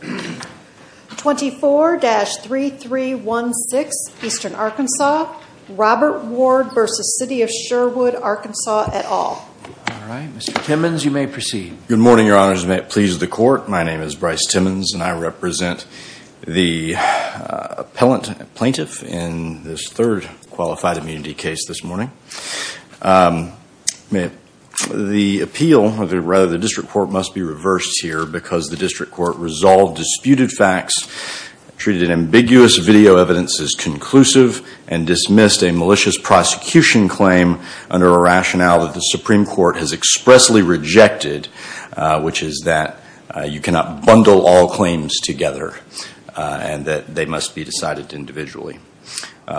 24-3316 Eastern Arkansas, Robert Ward v. City of Sherwood, Arkansas et al. All right, Mr. Timmons, you may proceed. Good morning, Your Honors, and may it please the Court. My name is Bryce Timmons, and I represent the appellant plaintiff in this third qualified immunity case this morning. The appeal, or rather the district court, must be reversed here because the district court resolved disputed facts, treated ambiguous video evidence as conclusive, and dismissed a malicious prosecution claim under a rationale that the Supreme Court has expressly rejected, which is that you cannot bundle all claims together and that they must be decided individually.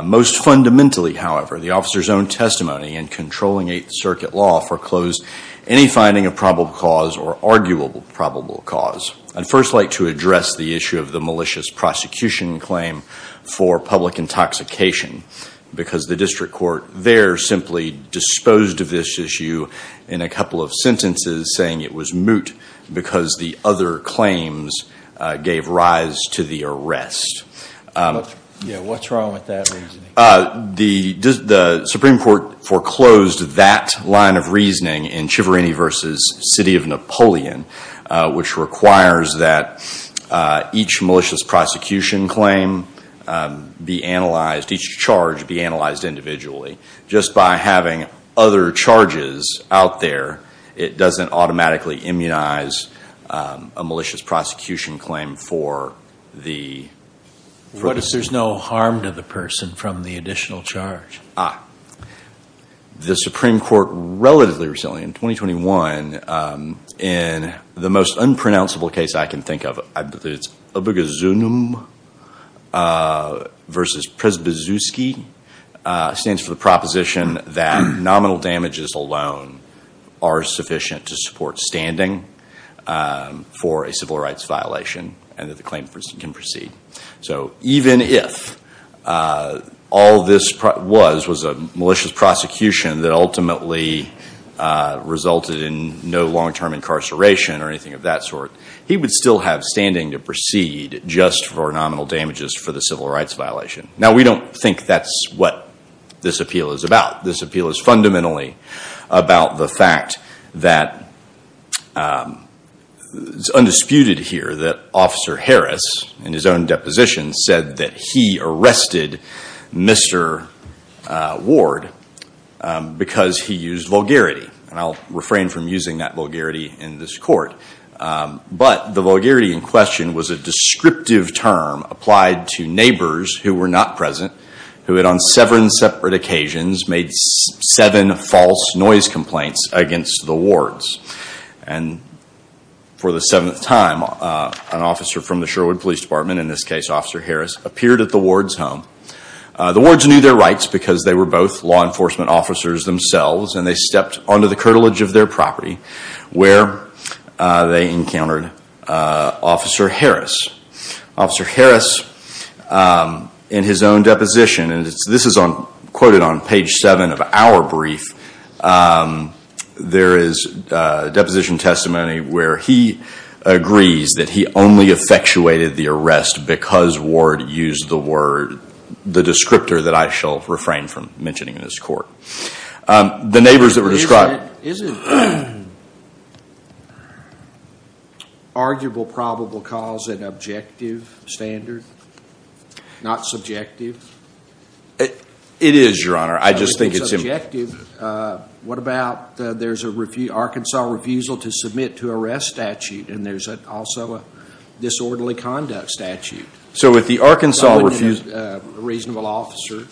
Most fundamentally, however, the officer's own testimony in controlling Eighth Circuit law foreclosed any finding of probable cause or arguable probable cause. I'd first like to address the issue of the malicious prosecution claim for public intoxication because the district court there simply disposed of this issue in a couple of sentences saying it was moot because the other claims gave rise to the arrest. What's wrong with that reasoning? The Supreme Court foreclosed that line of reasoning in Civarini v. City of Napoleon, which requires that each malicious prosecution claim be analyzed, each charge be analyzed individually. Just by having other charges out there, it doesn't automatically immunize a malicious prosecution claim for the- What if there's no harm to the person from the additional charge? The Supreme Court relatively recently, in 2021, in the most unpronounceable case I can think of, I believe it's Obegezunum v. Przybyzewski, stands for the proposition that nominal damages alone are sufficient to support standing for a civil rights violation and that the claim can proceed. So even if all this was was a malicious prosecution that ultimately resulted in no long-term incarceration or anything of that sort, he would still have standing to proceed just for nominal damages for the civil rights violation. Now, we don't think that's what this appeal is about. This appeal is fundamentally about the fact that it's undisputed here that Officer Harris, in his own deposition, said that he arrested Mr. Ward because he used vulgarity. And I'll refrain from using that vulgarity in this court. But the vulgarity in question was a descriptive term applied to neighbors who were not present, who had on seven separate occasions made seven false noise complaints against the Wards. And for the seventh time, an officer from the Sherwood Police Department, in this case Officer Harris, appeared at the Wards' home. The Wards knew their rights because they were both law enforcement officers themselves and they stepped onto the curtilage of their property where they encountered Officer Harris. Officer Harris, in his own deposition, and this is quoted on page seven of our brief, there is a deposition testimony where he agrees that he only effectuated the arrest because Ward used the word, from mentioning in this court. The neighbors that were described. Isn't arguable probable cause an objective standard, not subjective? It is, Your Honor. I just think it's important. If it's objective, what about there's an Arkansas refusal to submit to arrest statute and there's also a disorderly conduct statute? So with the Arkansas refusal. Does a reasonable officer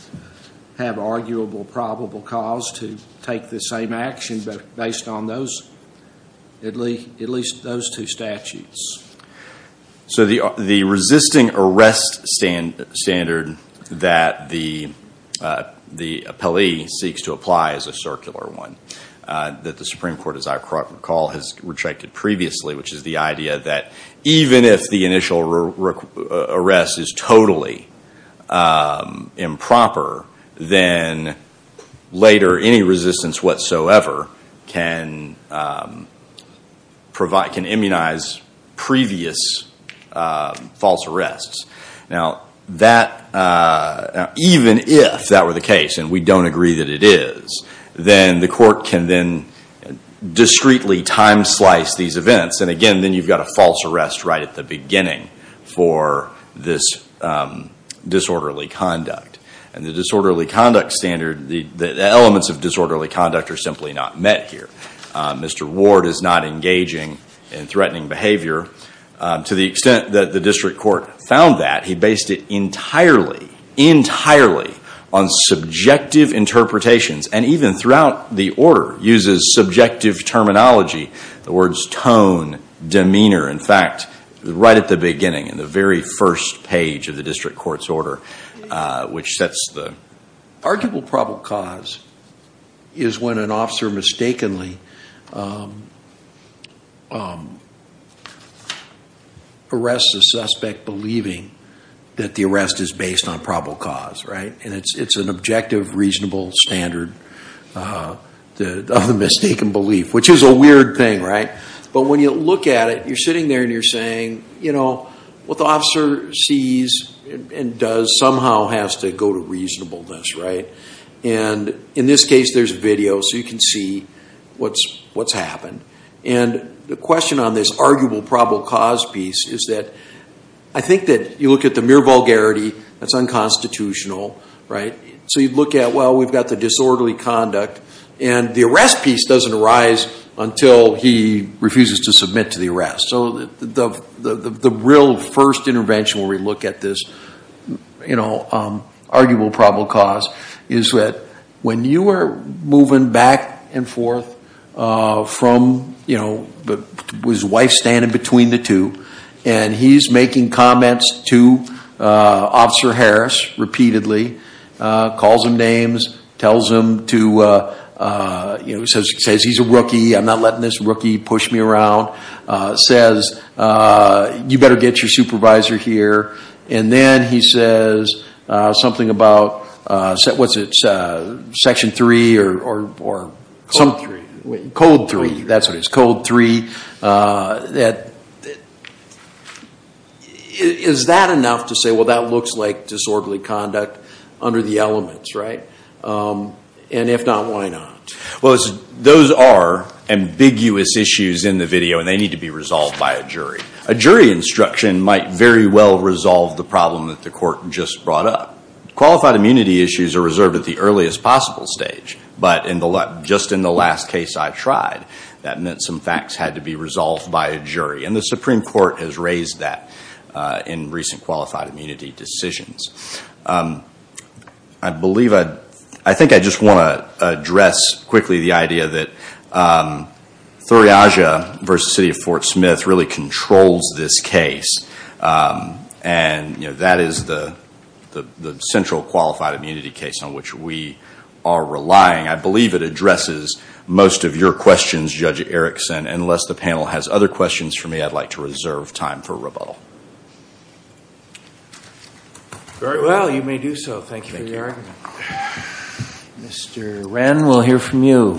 have arguable probable cause to take the same action based on those, at least those two statutes? So the resisting arrest standard that the appellee seeks to apply is a circular one that the Supreme Court, as I recall, has retracted previously, which is the idea that even if the initial arrest is totally improper, then later any resistance whatsoever can immunize previous false arrests. Now, even if that were the case, and we don't agree that it is, then the court can then discreetly time slice these events, and again, then you've got a false arrest right at the beginning for this disorderly conduct. And the disorderly conduct standard, the elements of disorderly conduct are simply not met here. Mr. Ward is not engaging in threatening behavior. To the extent that the district court found that, he based it entirely, entirely on subjective interpretations, and even throughout the order uses subjective terminology. The words tone, demeanor, in fact, right at the beginning, in the very first page of the district court's order, which sets the... That the arrest is based on probable cause, right? And it's an objective, reasonable standard of the mistaken belief, which is a weird thing, right? But when you look at it, you're sitting there and you're saying, you know, what the officer sees and does somehow has to go to reasonableness, right? And in this case, there's video, so you can see what's happened. And the question on this arguable probable cause piece is that I think that you look at the mere vulgarity that's unconstitutional, right? So you look at, well, we've got the disorderly conduct, and the arrest piece doesn't arise until he refuses to submit to the arrest. So the real first intervention where we look at this, you know, arguable probable cause, is that when you are moving back and forth from, you know, with his wife standing between the two, and he's making comments to Officer Harris repeatedly, calls him names, tells him to, you know, says he's a rookie, I'm not letting this rookie push me around, says you better get your supervisor here, and then he says something about, what's it, Section 3 or... Code 3, that's what it is, Code 3. Is that enough to say, well, that looks like disorderly conduct under the elements, right? And if not, why not? Well, those are ambiguous issues in the video, and they need to be resolved by a jury. A jury instruction might very well resolve the problem that the court just brought up. Qualified immunity issues are reserved at the earliest possible stage, but just in the last case I tried, that meant some facts had to be resolved by a jury, and the Supreme Court has raised that in recent qualified immunity decisions. I believe I'd... I think I just want to address quickly the idea that Thuri Aja versus City of Fort Smith really controls this case, and that is the central qualified immunity case on which we are relying. I believe it addresses most of your questions, Judge Erickson. Unless the panel has other questions for me, I'd like to reserve time for rebuttal. Well, you may do so. Thank you for your argument. Mr. Wren, we'll hear from you.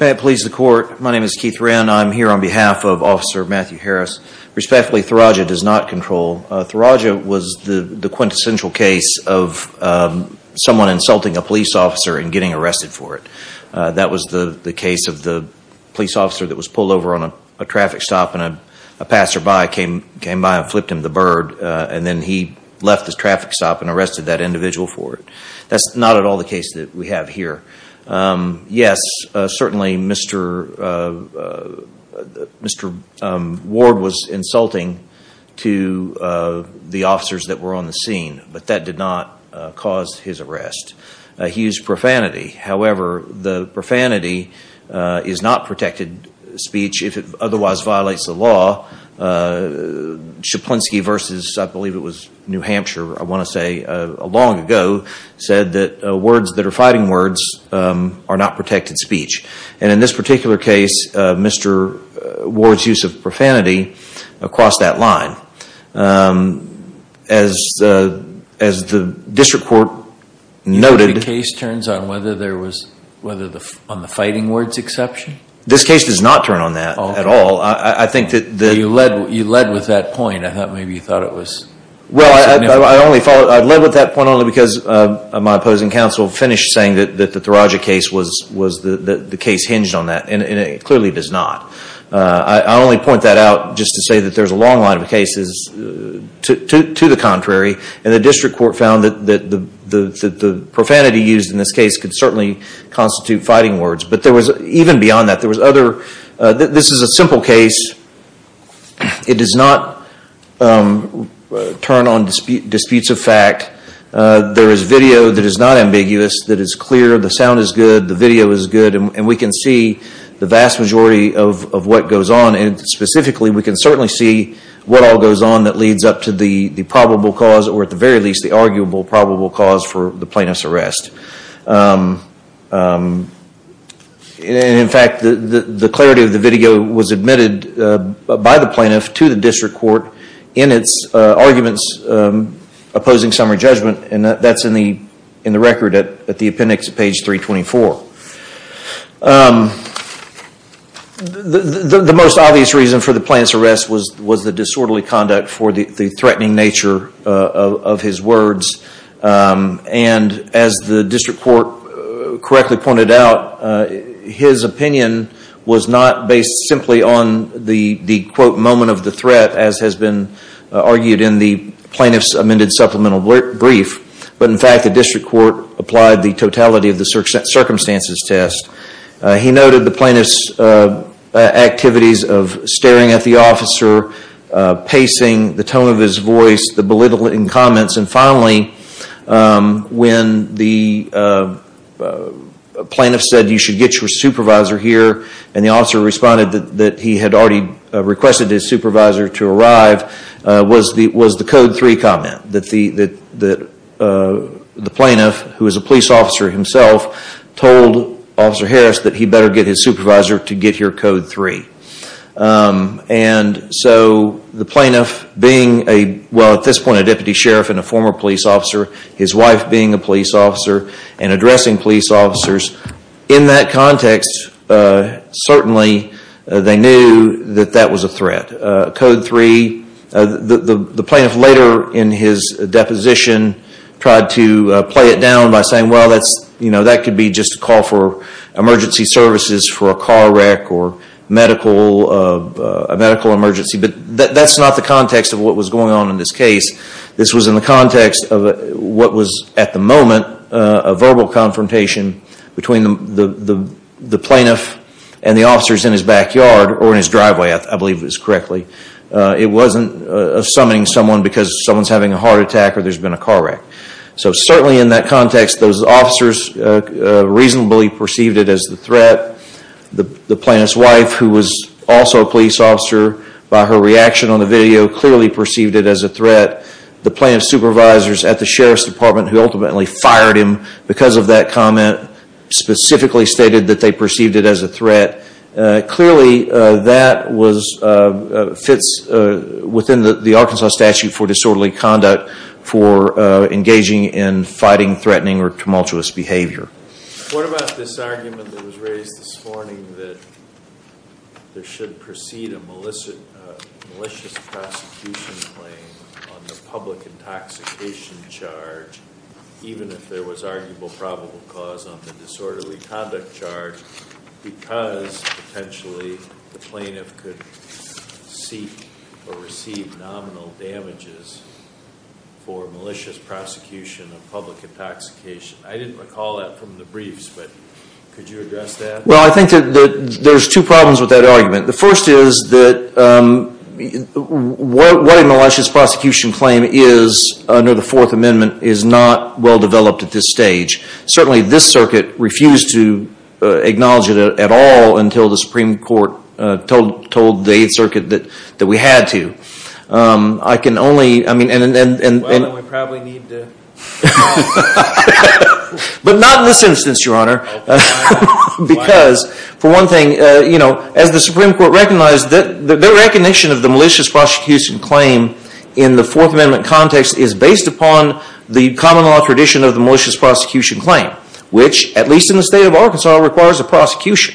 May it please the Court, my name is Keith Wren. I'm here on behalf of Officer Matthew Harris. Respectfully, Thuri Aja does not control. Thuri Aja was the quintessential case of someone insulting a police officer and getting arrested for it. That was the case of the police officer that was pulled over on a traffic stop and a passerby came by and flipped him the bird, and then he left the traffic stop and arrested that individual for it. That's not at all the case that we have here. Yes, certainly Mr. Ward was insulting to the officers that were on the scene, but that did not cause his arrest. He used profanity. However, the profanity is not protected speech if it otherwise violates the law. Szaplinski versus, I believe it was New Hampshire, I want to say, long ago, said that words that are fighting words are not protected speech. And in this particular case, Mr. Ward's use of profanity crossed that line. As the district court noted. The case turns on whether there was, on the fighting words exception? This case does not turn on that at all. You led with that point. I thought maybe you thought it was. Well, I led with that point only because my opposing counsel finished saying that the Thuri Aja case hinged on that, and it clearly does not. I only point that out just to say that there's a long line of cases to the contrary. And the district court found that the profanity used in this case could certainly constitute fighting words. But even beyond that, this is a simple case. It does not turn on disputes of fact. There is video that is not ambiguous, that is clear. The sound is good. The video is good. And we can see the vast majority of what goes on. Specifically, we can certainly see what all goes on that leads up to the probable cause, or at the very least, the arguable probable cause for the plaintiff's arrest. In fact, the clarity of the video was admitted by the plaintiff to the district court in its arguments opposing summary judgment. And that's in the record at the appendix at page 324. The most obvious reason for the plaintiff's arrest was the disorderly conduct for the threatening nature of his words. And as the district court correctly pointed out, his opinion was not based simply on the quote, moment of the threat as has been argued in the plaintiff's amended supplemental brief. But in fact, the district court applied the totality of the circumstances test. He noted the plaintiff's activities of staring at the officer, pacing, the tone of his voice, the belittling comments, and finally, when the plaintiff said you should get your supervisor here, and the officer responded that he had already requested his supervisor to arrive, was the code 3 comment that the plaintiff, who is a police officer himself, told Officer Harris that he better get his supervisor to get your code 3. And so the plaintiff being, well at this point, a deputy sheriff and a former police officer, his wife being a police officer and addressing police officers, in that context, certainly they knew that that was a threat. Code 3, the plaintiff later in his deposition tried to play it down by saying, well, that could be just a call for emergency services for a car wreck or a medical emergency. But that's not the context of what was going on in this case. This was in the context of what was at the moment a verbal confrontation between the plaintiff and the officers in his backyard, or in his driveway, I believe it was correctly. It wasn't summoning someone because someone's having a heart attack or there's been a car wreck. So certainly in that context, those officers reasonably perceived it as a threat. The plaintiff's wife, who was also a police officer, by her reaction on the video, clearly perceived it as a threat. The plaintiff's supervisors at the sheriff's department, who ultimately fired him because of that comment, specifically stated that they perceived it as a threat. Clearly, that fits within the Arkansas statute for disorderly conduct, for engaging in fighting, threatening, or tumultuous behavior. What about this argument that was raised this morning that there should precede a malicious prosecution claim on the public intoxication charge, even if there was arguable probable cause on the disorderly conduct charge, because potentially the plaintiff could seek or receive nominal damages for malicious prosecution of public intoxication? I didn't recall that from the briefs, but could you address that? Well, I think that there's two problems with that argument. The first is that what a malicious prosecution claim is under the Fourth Amendment is not well developed at this stage. Certainly, this circuit refused to acknowledge it at all until the Supreme Court told the Eighth Circuit that we had to. I can only... Well, then we probably need to... But not in this instance, Your Honor. Because, for one thing, as the Supreme Court recognized, their recognition of the malicious prosecution claim in the Fourth Amendment context is based upon the common law tradition of the malicious prosecution claim, which, at least in the state of Arkansas, requires a prosecution.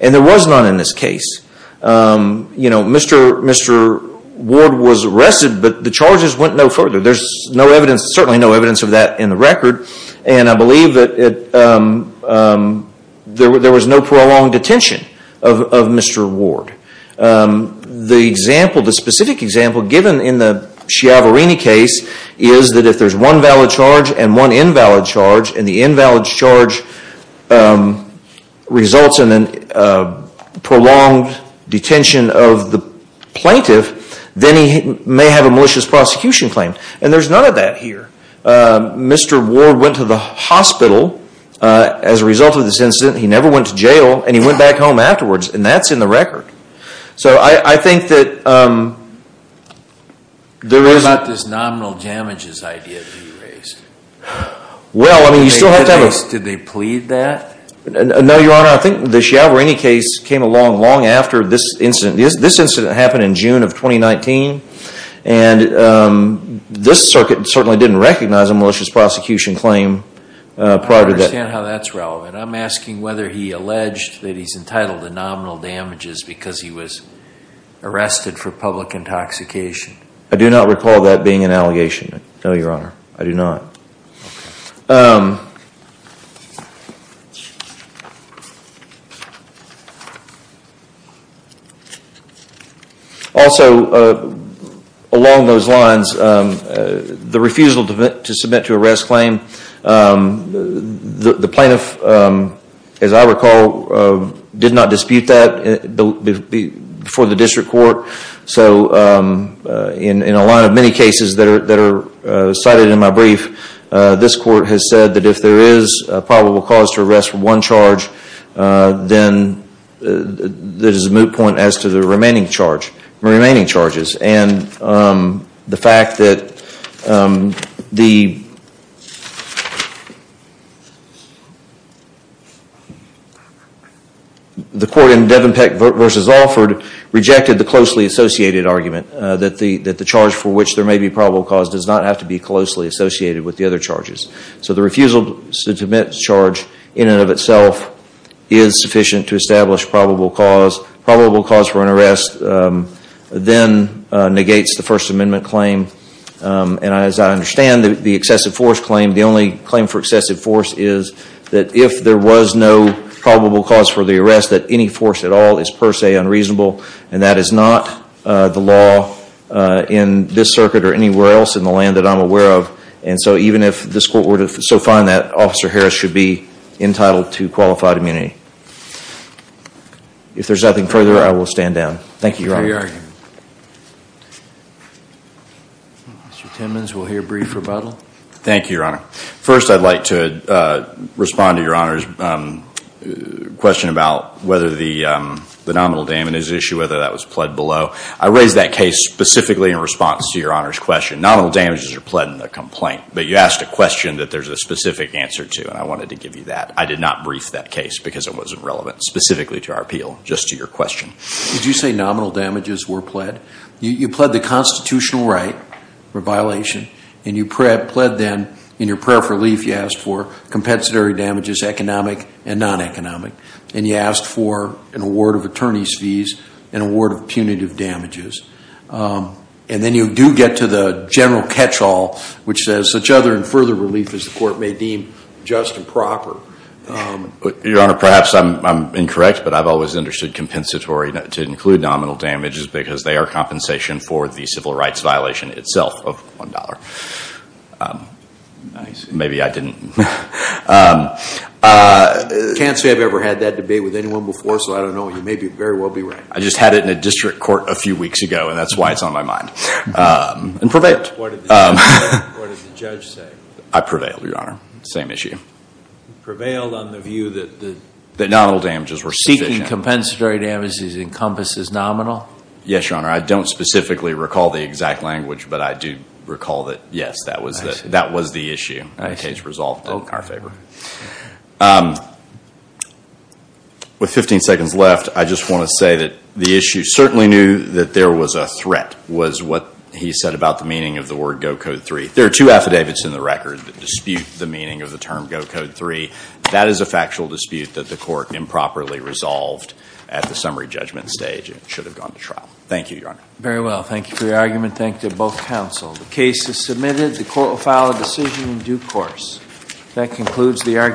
And there was none in this case. Mr. Ward was arrested, but the charges went no further. There's certainly no evidence of that in the record. And I believe that there was no prolonged detention of Mr. Ward. The example, the specific example, given in the Schiavarini case, is that if there's one valid charge and one invalid charge, and the invalid charge results in a prolonged detention of the plaintiff, then he may have a malicious prosecution claim. And there's none of that here. Mr. Ward went to the hospital as a result of this incident. He never went to jail, and he went back home afterwards. And that's in the record. So I think that there is... What about this nominal damages idea to be erased? Well, I mean, you still have to have a... Did they plead that? No, Your Honor. I think the Schiavarini case came along long after this incident. This incident happened in June of 2019. And this circuit certainly didn't recognize a malicious prosecution claim prior to that. I understand how that's relevant. I'm asking whether he alleged that he's entitled to nominal damages because he was arrested for public intoxication. I do not recall that being an allegation. No, Your Honor. I do not. Okay. Also, along those lines, the refusal to submit to arrest claim, the plaintiff, as I recall, did not dispute that before the district court. So in a lot of many cases that are cited in my brief, this court has said that if there is a probable cause to arrest for one charge, then there's a moot point as to the remaining charges. And the fact that the... The court in Devenpeck v. Alford rejected the closely associated argument that the charge for which there may be probable cause does not have to be closely associated with the other charges. So the refusal to submit charge in and of itself is sufficient to establish probable cause. Probable cause for an arrest then negates the First Amendment claim. And as I understand, the excessive force claim, the only claim for excessive force is that if there was no probable cause for the arrest, that any force at all is per se unreasonable. And that is not the law in this circuit or anywhere else in the land that I'm aware of. And so even if this court were to so find that, Officer Harris should be entitled to qualified immunity. If there's nothing further, I will stand down. Thank you, Your Honor. Mr. Timmons, we'll hear a brief rebuttal. Thank you, Your Honor. First, I'd like to respond to Your Honor's question about whether the nominal damages issue, whether that was pled below. I raised that case specifically in response to Your Honor's question. Nominal damages are pled in the complaint, but you asked a question that there's a specific answer to, and I wanted to give you that. I did not brief that case because it wasn't relevant specifically to our appeal. Just to your question. Did you say nominal damages were pled? You pled the constitutional right for violation, and you pled then in your prayer for relief you asked for compensatory damages, economic and non-economic. And you asked for an award of attorney's fees, an award of punitive damages. And then you do get to the general catch-all, which says such other and further relief as the court may deem just and proper. Your Honor, perhaps I'm incorrect, but I've always understood compensatory to include nominal damages because they are compensation for the civil rights violation itself of $1. Maybe I didn't. I can't say I've ever had that debate with anyone before, so I don't know. You may very well be right. I just had it in a district court a few weeks ago, and that's why it's on my mind. And prevailed. What did the judge say? I prevailed, Your Honor. Same issue. Prevailed on the view that nominal damages were sufficient. Seeking compensatory damages encompasses nominal? Yes, Your Honor. I don't specifically recall the exact language, but I do recall that, yes, that was the issue. Case resolved in our favor. With 15 seconds left, I just want to say that the issue certainly knew that there was a threat was what he said about the meaning of the word Go Code 3. There are two affidavits in the record that dispute the meaning of the term Go Code 3. That is a factual dispute that the court improperly resolved at the summary judgment stage and should have gone to trial. Thank you, Your Honor. Very well. Thank you for your argument. Thank you to both counsel. The case is submitted. The court will file a decision in due course. That concludes the argument.